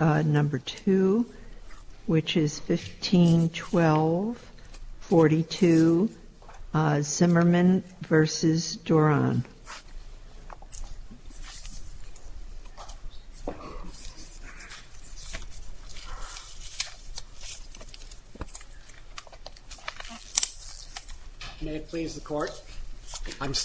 1512-42 Zimmerman v. Doran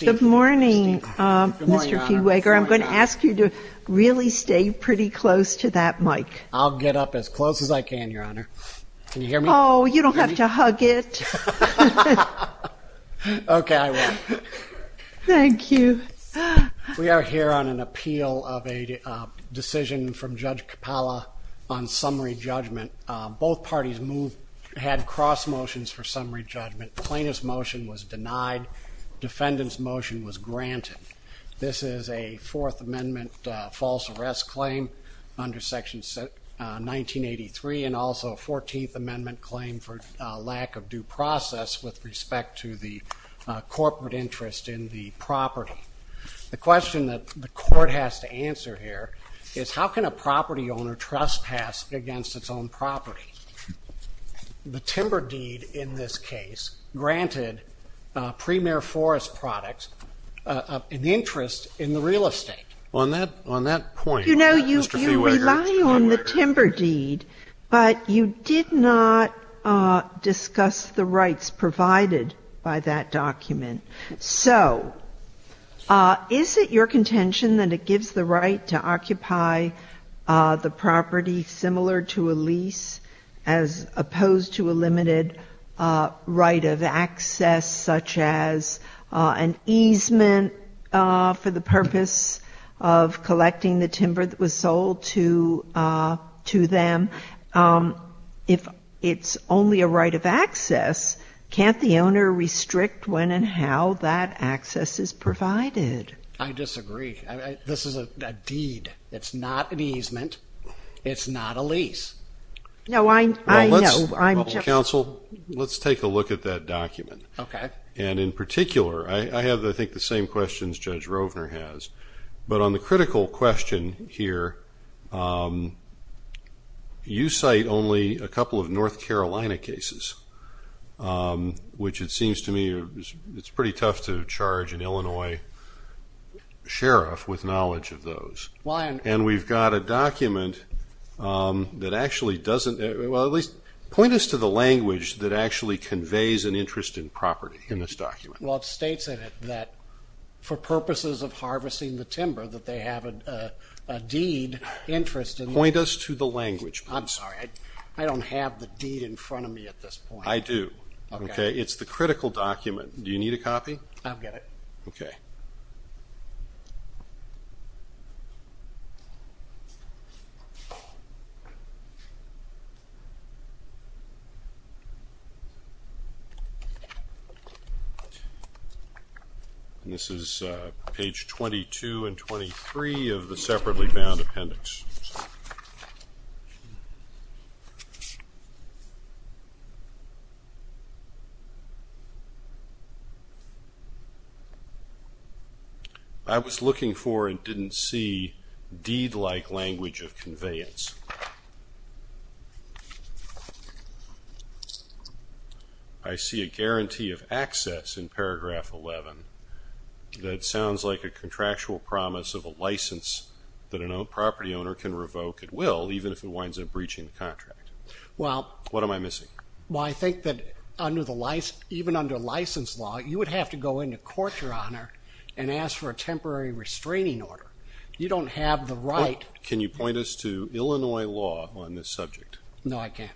Good morning Mr. P. Wager I'm going to ask you to really stay pretty close to that mic. I'll get up as close as I can your honor. Can you hear me? Oh you don't have to hug it. Okay I will. Thank you. We are here on an appeal of a decision from Judge Capalla on summary judgment. Both parties moved had cross motions for summary judgment. Plaintiff's motion was denied. Defendant's motion was granted. This is a fourth amendment false arrest claim under section 1983 and also a 14th amendment claim for lack of due process with respect to the corporate interest in the property. The question that the court has to answer here is how can a property owner trespass against its own property? The timber deed in this case granted premier forest products in the interest in the real estate. On that point you know you rely on the timber deed but you did not discuss the rights provided by that document. So is it your contention that it gives the right to occupy the property similar to a lease as opposed to a limited right of access such as an easement for the purpose of collecting the timber that was sold to them? If it's only a right of access can't the owner restrict when and how that access is provided? I disagree. This is a deed. It's not an easement. It's not a lease. No I know. Counsel let's take a look at that document and in particular I have I think the same questions Judge Rovner has but on the critical question here you cite only a couple of North Carolina cases which it seems to me it's pretty tough to charge an Illinois sheriff with knowledge of those. And we've got a document that actually doesn't well at least point us to the language that actually conveys an interest in property in this document. Well it states in it that for purposes of harvesting the timber that they have a deed interest. Point us to the language. I'm sorry I don't have the deed in front of me at this point. I do. Okay it's the critical document. Do you need a copy? I've got it. Okay. This is page 22 and 23 of the separately bound appendix. I was looking for and didn't see deed-like language of conveyance. I see a guarantee of access in paragraph 11. That sounds like a contractual promise of a license that a property owner can revoke at will even if it winds up breaching the contract. What am I missing? Well I think that even under license law you would have to go into court your honor and ask for a temporary restraining order. You don't have the right. Can you point us to Illinois law on this subject? No I can't.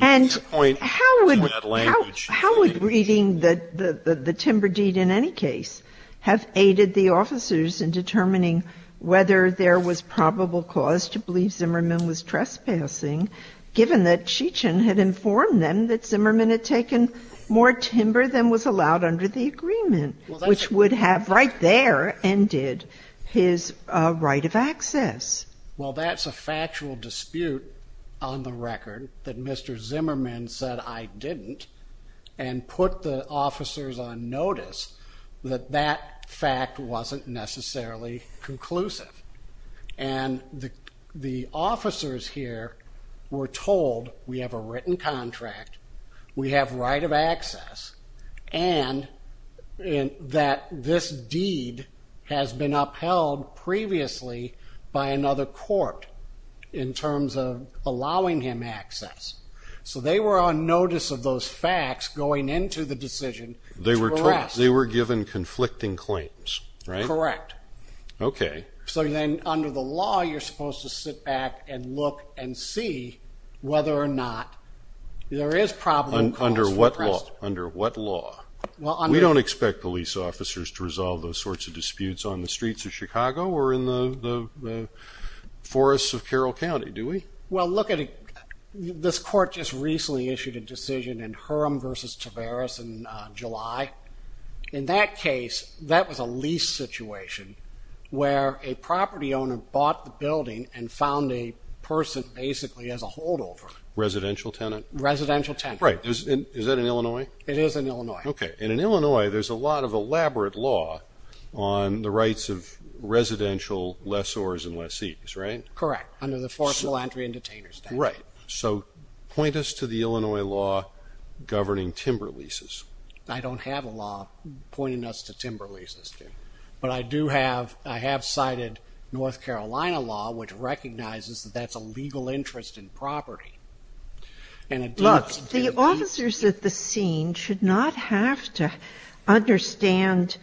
And how would reading the timber deed in any case have aided the officers in determining whether there was probable cause to believe Zimmerman was trespassing given that Cheechan had informed them that Zimmerman had taken more timber than was allowed under the agreement which would have right there ended his right of access. Well that's a factual dispute on the record that Mr. Zimmerman said I didn't and put the officers here were told we have a written contract we have right of access and that this deed has been upheld previously by another court in terms of allowing him access. So they were on notice of those facts going into the decision. They were given conflicting claims right? Correct. Okay. So then under the law you're supposed to sit back and look and see whether or not there is problem. Under what law? Under what law? We don't expect police officers to resolve those sorts of disputes on the streets of Chicago or in the forests of Carroll County do we? Well look at this court just recently issued a decision in Hurom versus Tavares in July. In that case that was a lease situation where a property owner bought the building and found a person basically as a holdover. Residential tenant? Residential tenant. Right. Is that in Illinois? It is in Illinois. Okay. In Illinois there's a lot of elaborate law on the rights of residential lessors and lessees right? Correct. Under the Forcible Entry and Detainers Act. Right. Point us to the Illinois law governing timber leases. I don't have a law pointing us to timber leases but I do have I have cited North Carolina law which recognizes that that's a legal interest in property. Look the officers at the scene should not have to understand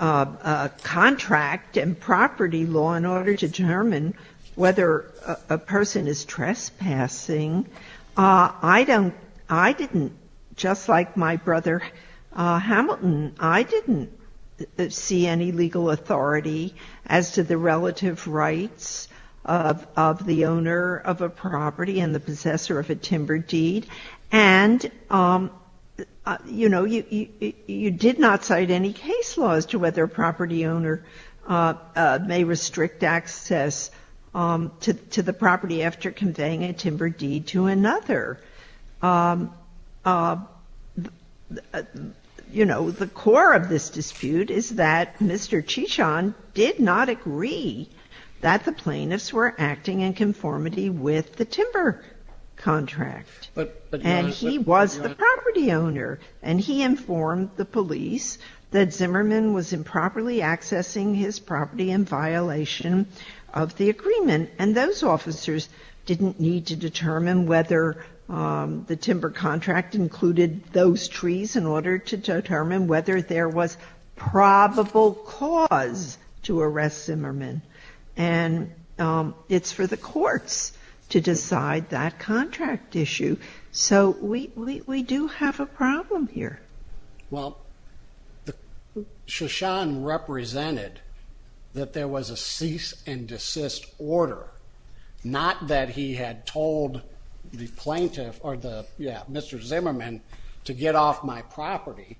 a contract and uh I don't I didn't just like my brother uh Hamilton I didn't see any legal authority as to the relative rights of of the owner of a property and the possessor of a timber deed and um you know you you did not cite any case laws to whether a property owner uh uh may restrict access um to to the property after conveying a timber deed to another um uh you know the core of this dispute is that Mr. Chisholm did not agree that the plaintiffs were acting in conformity with the timber contract but and he was the property owner and he informed the police that Zimmerman was improperly accessing his property in violation of the agreement and those officers didn't need to determine whether um the timber contract included those trees in order to determine whether there was probable cause to arrest Zimmerman and um it's for the courts to decide that contract issue so we we do have a problem here. Well Chisholm represented that there was a cease and desist order not that he had told the plaintiff or the yeah Mr. Zimmerman to get off my property.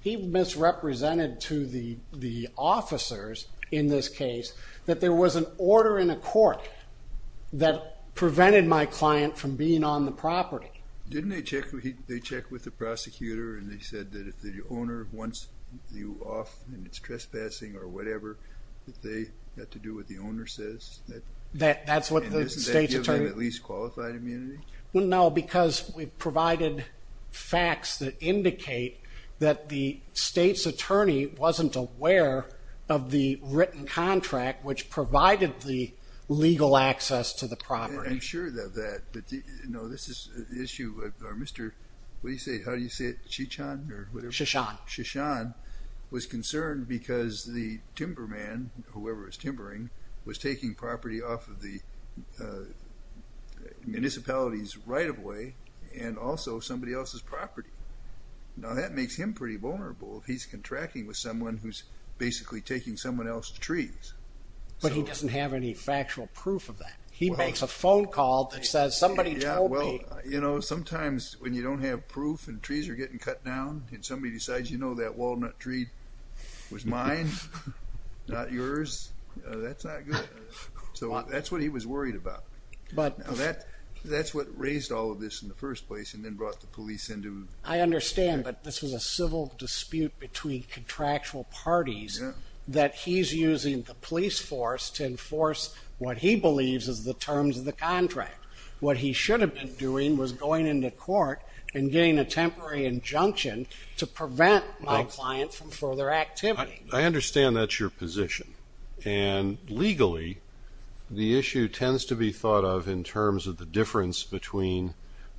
He misrepresented to the the case that there was an order in a court that prevented my client from being on the property. Didn't they check they check with the prosecutor and they said that if the owner wants you off and it's trespassing or whatever that they got to do what the owner says that that's what the state's attorney at least qualified immunity? Well no because we provided facts that indicate that the state's attorney wasn't aware of the written contract which provided the legal access to the property. I'm sure that that but you know this is the issue of our Mr. what do you say how do you say it Chichon or whatever? Chichon. Chichon was concerned because the timber man whoever was timbering was taking property off of the municipality's right-of-way and also somebody else's property. Now that makes him pretty vulnerable if he's contracting with someone who's basically taking someone else's trees. But he doesn't have any factual proof of that. He makes a phone call that says somebody told me. Yeah well you know sometimes when you don't have proof and trees are getting cut down and somebody decides you know that walnut tree was mine not yours that's not good. So that's what he was worried about but now that that's what raised all of this in the first place and then brought the police into. I understand but this was a civil dispute between contractual parties that he's using the police force to enforce what he believes is the terms of the contract. What he should have been doing was going into court and getting a temporary injunction to prevent my client from further activity. I understand that's your position and legally the issue tends to be thought of in terms of the difference between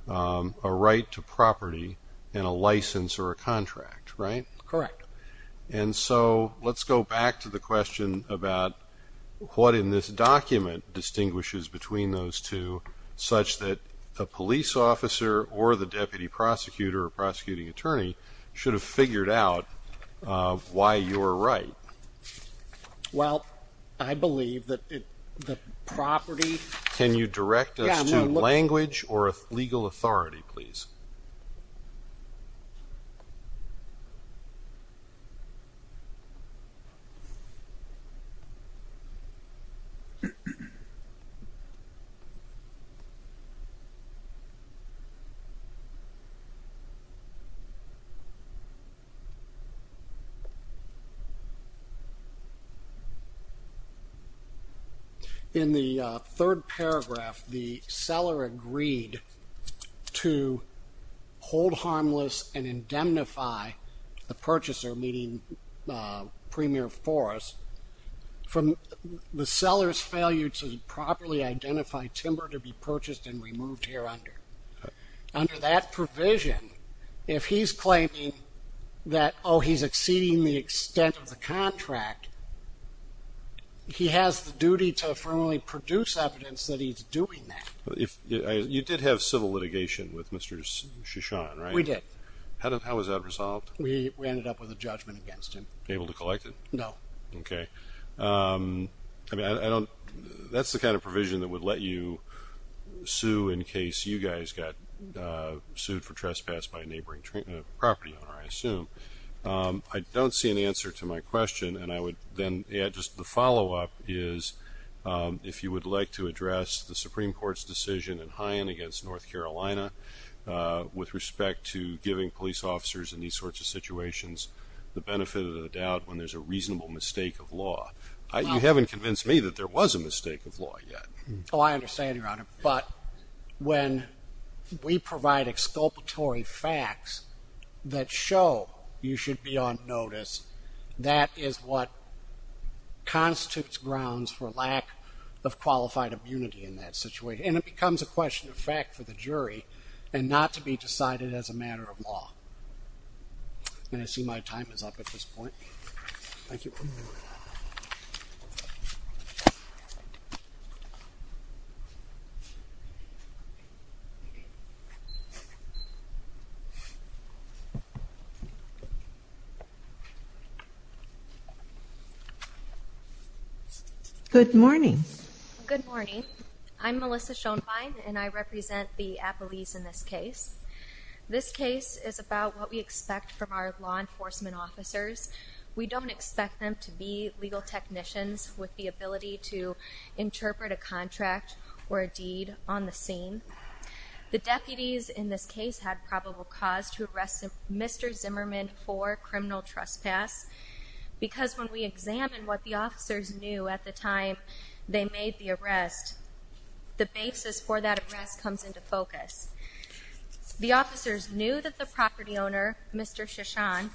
a right to property and a license or a contract right? Correct. And so let's go back to the question about what in this document distinguishes between those two such that a police officer or the deputy prosecutor or prosecuting attorney should have figured out why you're right. Well I believe that the property. Can you direct us to language or a legal authority please? In the third paragraph the seller agreed to hold harmless and indemnify the purchaser meeting premier for us from the seller's failure to properly identify timber to be purchased and removed here under. Under that provision if he's claiming that oh he's exceeding the extent of the he has the duty to formally produce evidence that he's doing that. If you did have civil litigation with Mr. Shishan right? We did. How was that resolved? We ended up with a judgment against him. Able to collect it? No. Okay I mean I don't that's the kind of provision that would let you sue in case you guys got sued for trespass by a neighboring property owner I assume. I don't see an answer to my question and I would then add just the follow-up is if you would like to address the Supreme Court's decision in Hyann against North Carolina with respect to giving police officers in these sorts of situations the benefit of the doubt when there's a reasonable mistake of law. You haven't convinced me that there was a mistake of law yet. Oh I understand but when we provide exculpatory facts that show you should be on notice that is what constitutes grounds for lack of qualified immunity in that situation and it becomes a question of fact for the jury and not to be decided as a matter of law. And I see my time is up at this point. Thank you. Good morning. Good morning. I'm Melissa Schoenbein and I represent the Appalese in this case. This case is about what we expect from our law enforcement officers. We don't expect them to be legal technicians with the ability to interpret a contract or a deed on the scene. The deputies in this case had probable cause to arrest Mr. Zimmerman for criminal trespass because when we examine what the officers knew at the time they made the arrest the basis for that arrest comes into focus. The officers knew that the property owner Mr. Shishan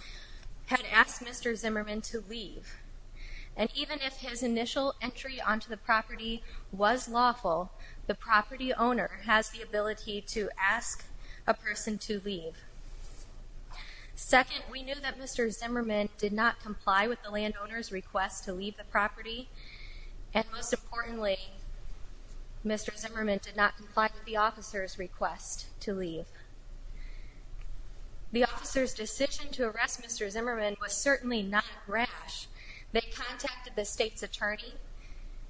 had asked Mr. Zimmerman to leave and even if his initial entry onto the property was lawful the property owner has the ability to ask a person to leave. Second we knew that Mr. Zimmerman did not comply with the landowner's to leave the property and most importantly Mr. Zimmerman did not comply with the officer's request to leave. The officer's decision to arrest Mr. Zimmerman was certainly not a rash. They contacted the state's attorney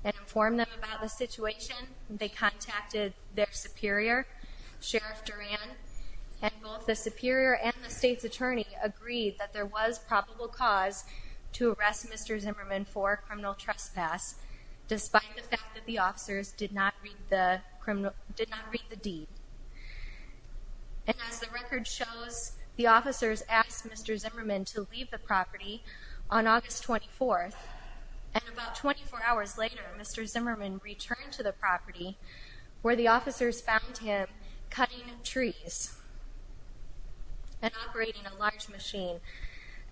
and informed them about the situation. They contacted their superior Sheriff Duran and both the superior and the state's attorney agreed that there was probable cause to arrest Mr. Zimmerman for criminal trespass despite the fact that the officers did not read the criminal did not read the deed and as the record shows the officers asked Mr. Zimmerman to leave the property on August 24th and about 24 hours later Mr. Zimmerman returned to the property where the officers found him cutting trees and operating a large machine.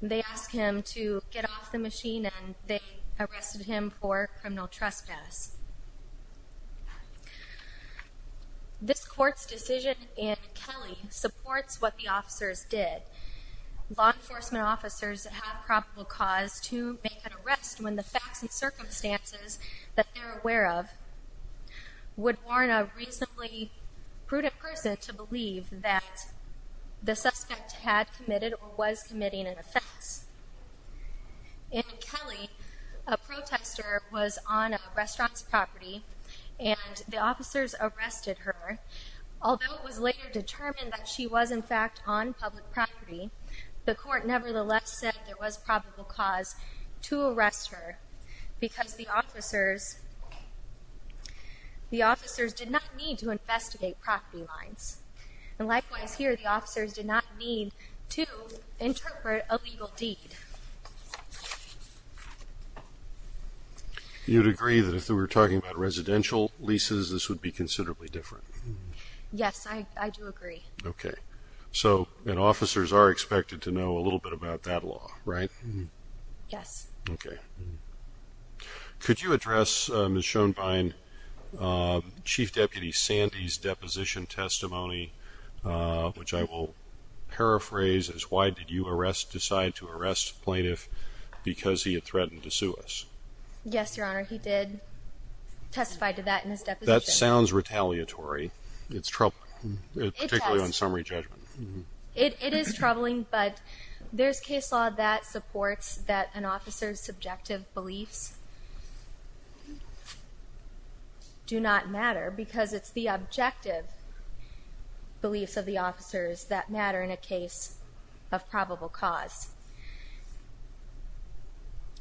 They asked him to get off the machine and they arrested him for criminal trespass. This court's decision in Kelly supports what the officers did. Law enforcement officers that have probable cause to make an arrest when the facts and circumstances that they're aware of would warn a reasonably prudent person to believe that the suspect had committed or was committing an offense. In Kelly a protester was on a restaurant's property and the officers arrested her although it was later determined that she was in fact on public property the court nevertheless said there was probable cause to arrest her because the officers the officers did not need to investigate property lines and likewise here the officers did not need to interpret a legal deed. You'd agree that if they were talking about residential leases this would be considerably different. Yes I do agree. Okay so and officers are expected to know a little bit about that law right? Yes. Okay could you address Ms. Schoenbein Chief Deputy Sandy's deposition testimony which I will paraphrase as why did you arrest decide to arrest plaintiff because he had it's troubling particularly on summary judgment. It is troubling but there's case law that supports that an officer's subjective beliefs do not matter because it's the objective beliefs of the officers that matter in a case of probable cause.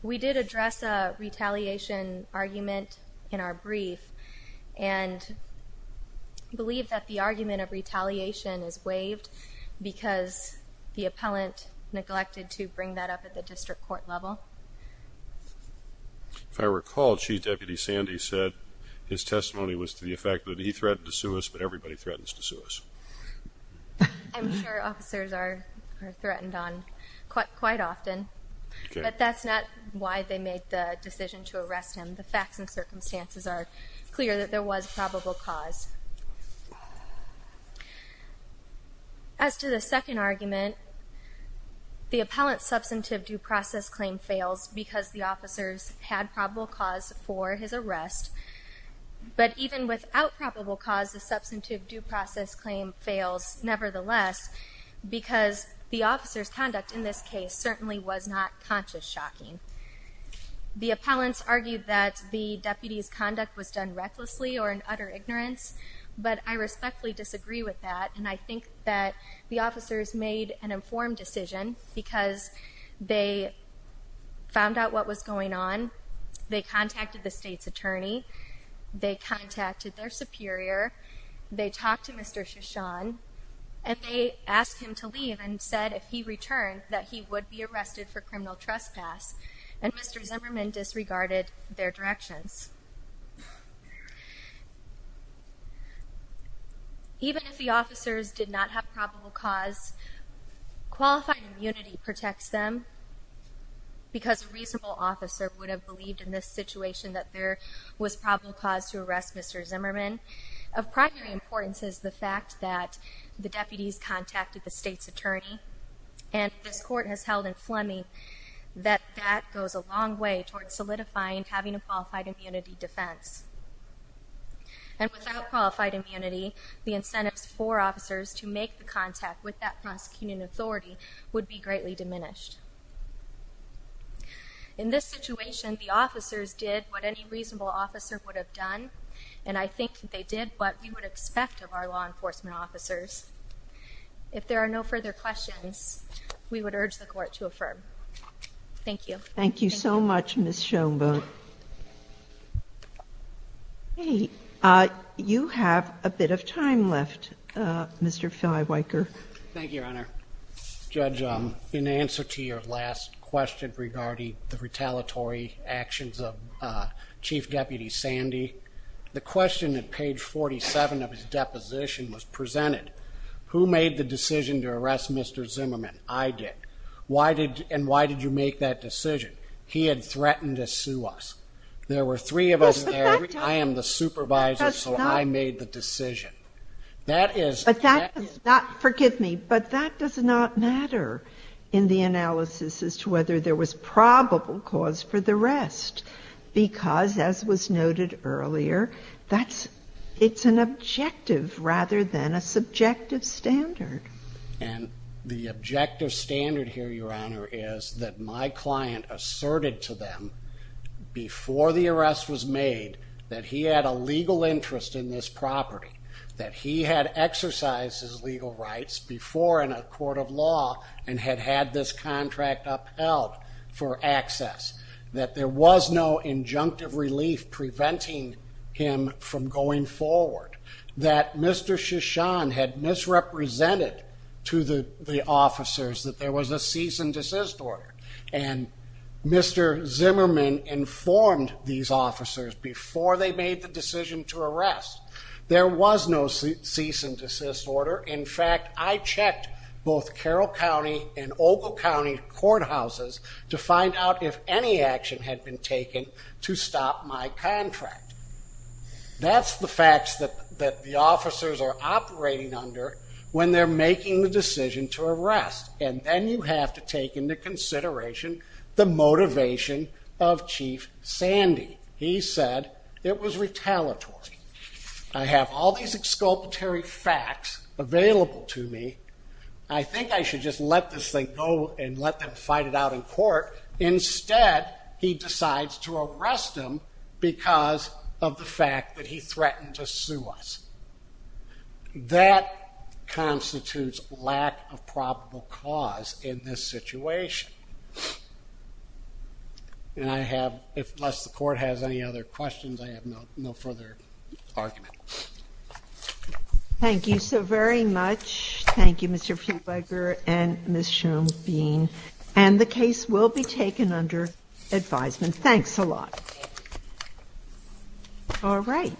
We did address a retaliation argument in our brief and believe that the argument of retaliation is waived because the appellant neglected to bring that up at the district court level. If I recall Chief Deputy Sandy said his testimony was to the effect that he threatened to sue us but everybody threatens to sue us. I'm sure officers are threatened on quite often but that's not why they made the decision to arrest him the facts and circumstances are clear that there was probable cause. As to the second argument the appellant's substantive due process claim fails because the process claim fails nevertheless because the officer's conduct in this case certainly was not conscious shocking. The appellants argued that the deputy's conduct was done recklessly or in utter ignorance but I respectfully disagree with that and I think that the officers made an informed decision because they found out what was going on, they contacted the state's attorney, they contacted their superior, they talked to Mr. Shishan and they asked him to leave and said if he returned that he would be arrested for criminal trespass and Mr. Zimmerman disregarded their directions. Even if the officers did not have probable cause qualified immunity protects them because a reasonable officer would have believed in this situation that there was probable cause to arrest Mr. Zimmerman. Of primary importance is the fact that the deputies contacted the state's attorney and this court has held in Fleming that that goes a long way toward solidifying having a qualified immunity defense and without qualified immunity the incentives for officers to make the contact with that prosecuting authority would be greatly diminished. In this situation the officers did what any reasonable officer would have done and I think they did what we would expect of our law enforcement officers. If there are no further questions we would urge the court to affirm. Thank you. Thank you so much Ms. Schoenberg. Hey, you have a bit of time left Mr. Filiwiker. Thank you your honor. Judge, in answer to your last question regarding the retaliatory actions of Chief Deputy Sandy, the question at page 47 of his deposition was presented. Who made the decision to arrest Mr. Zimmerman? I did. Why did and why did you make that decision? He had threatened to sue us. There were three of us there. I am the supervisor so I made the decision. But that does not, forgive me, but that does not matter in the analysis as to whether there was probable cause for the arrest because as was noted earlier that's it's an objective rather than a subjective standard. And the objective standard here your my client asserted to them before the arrest was made that he had a legal interest in this property. That he had exercised his legal rights before in a court of law and had had this contract upheld for access. That there was no injunctive relief preventing him from going forward. That Mr. had misrepresented to the officers that there was a cease and desist order and Mr. Zimmerman informed these officers before they made the decision to arrest. There was no cease and desist order. In fact, I checked both Carroll County and Ogle County courthouses to find out if any action had been taken to stop my contract. That's the facts that the officers are operating under when they're making the decision to arrest and then you have to take into consideration the motivation of Chief Sandy. He said it was retaliatory. I have all these exculpatory facts available to me. I think I should just let this thing go and let them fight it out in court instead he decides to arrest him because of the fact that he threatened to sue us. That constitutes lack of probable cause in this situation. And I have, unless the court has any other questions, I have no further argument. Thank you so very much. Thank you, Mr. Fluebberger and Ms. Schoenbein. And the case will be taken under advisement. Thanks a lot. All right.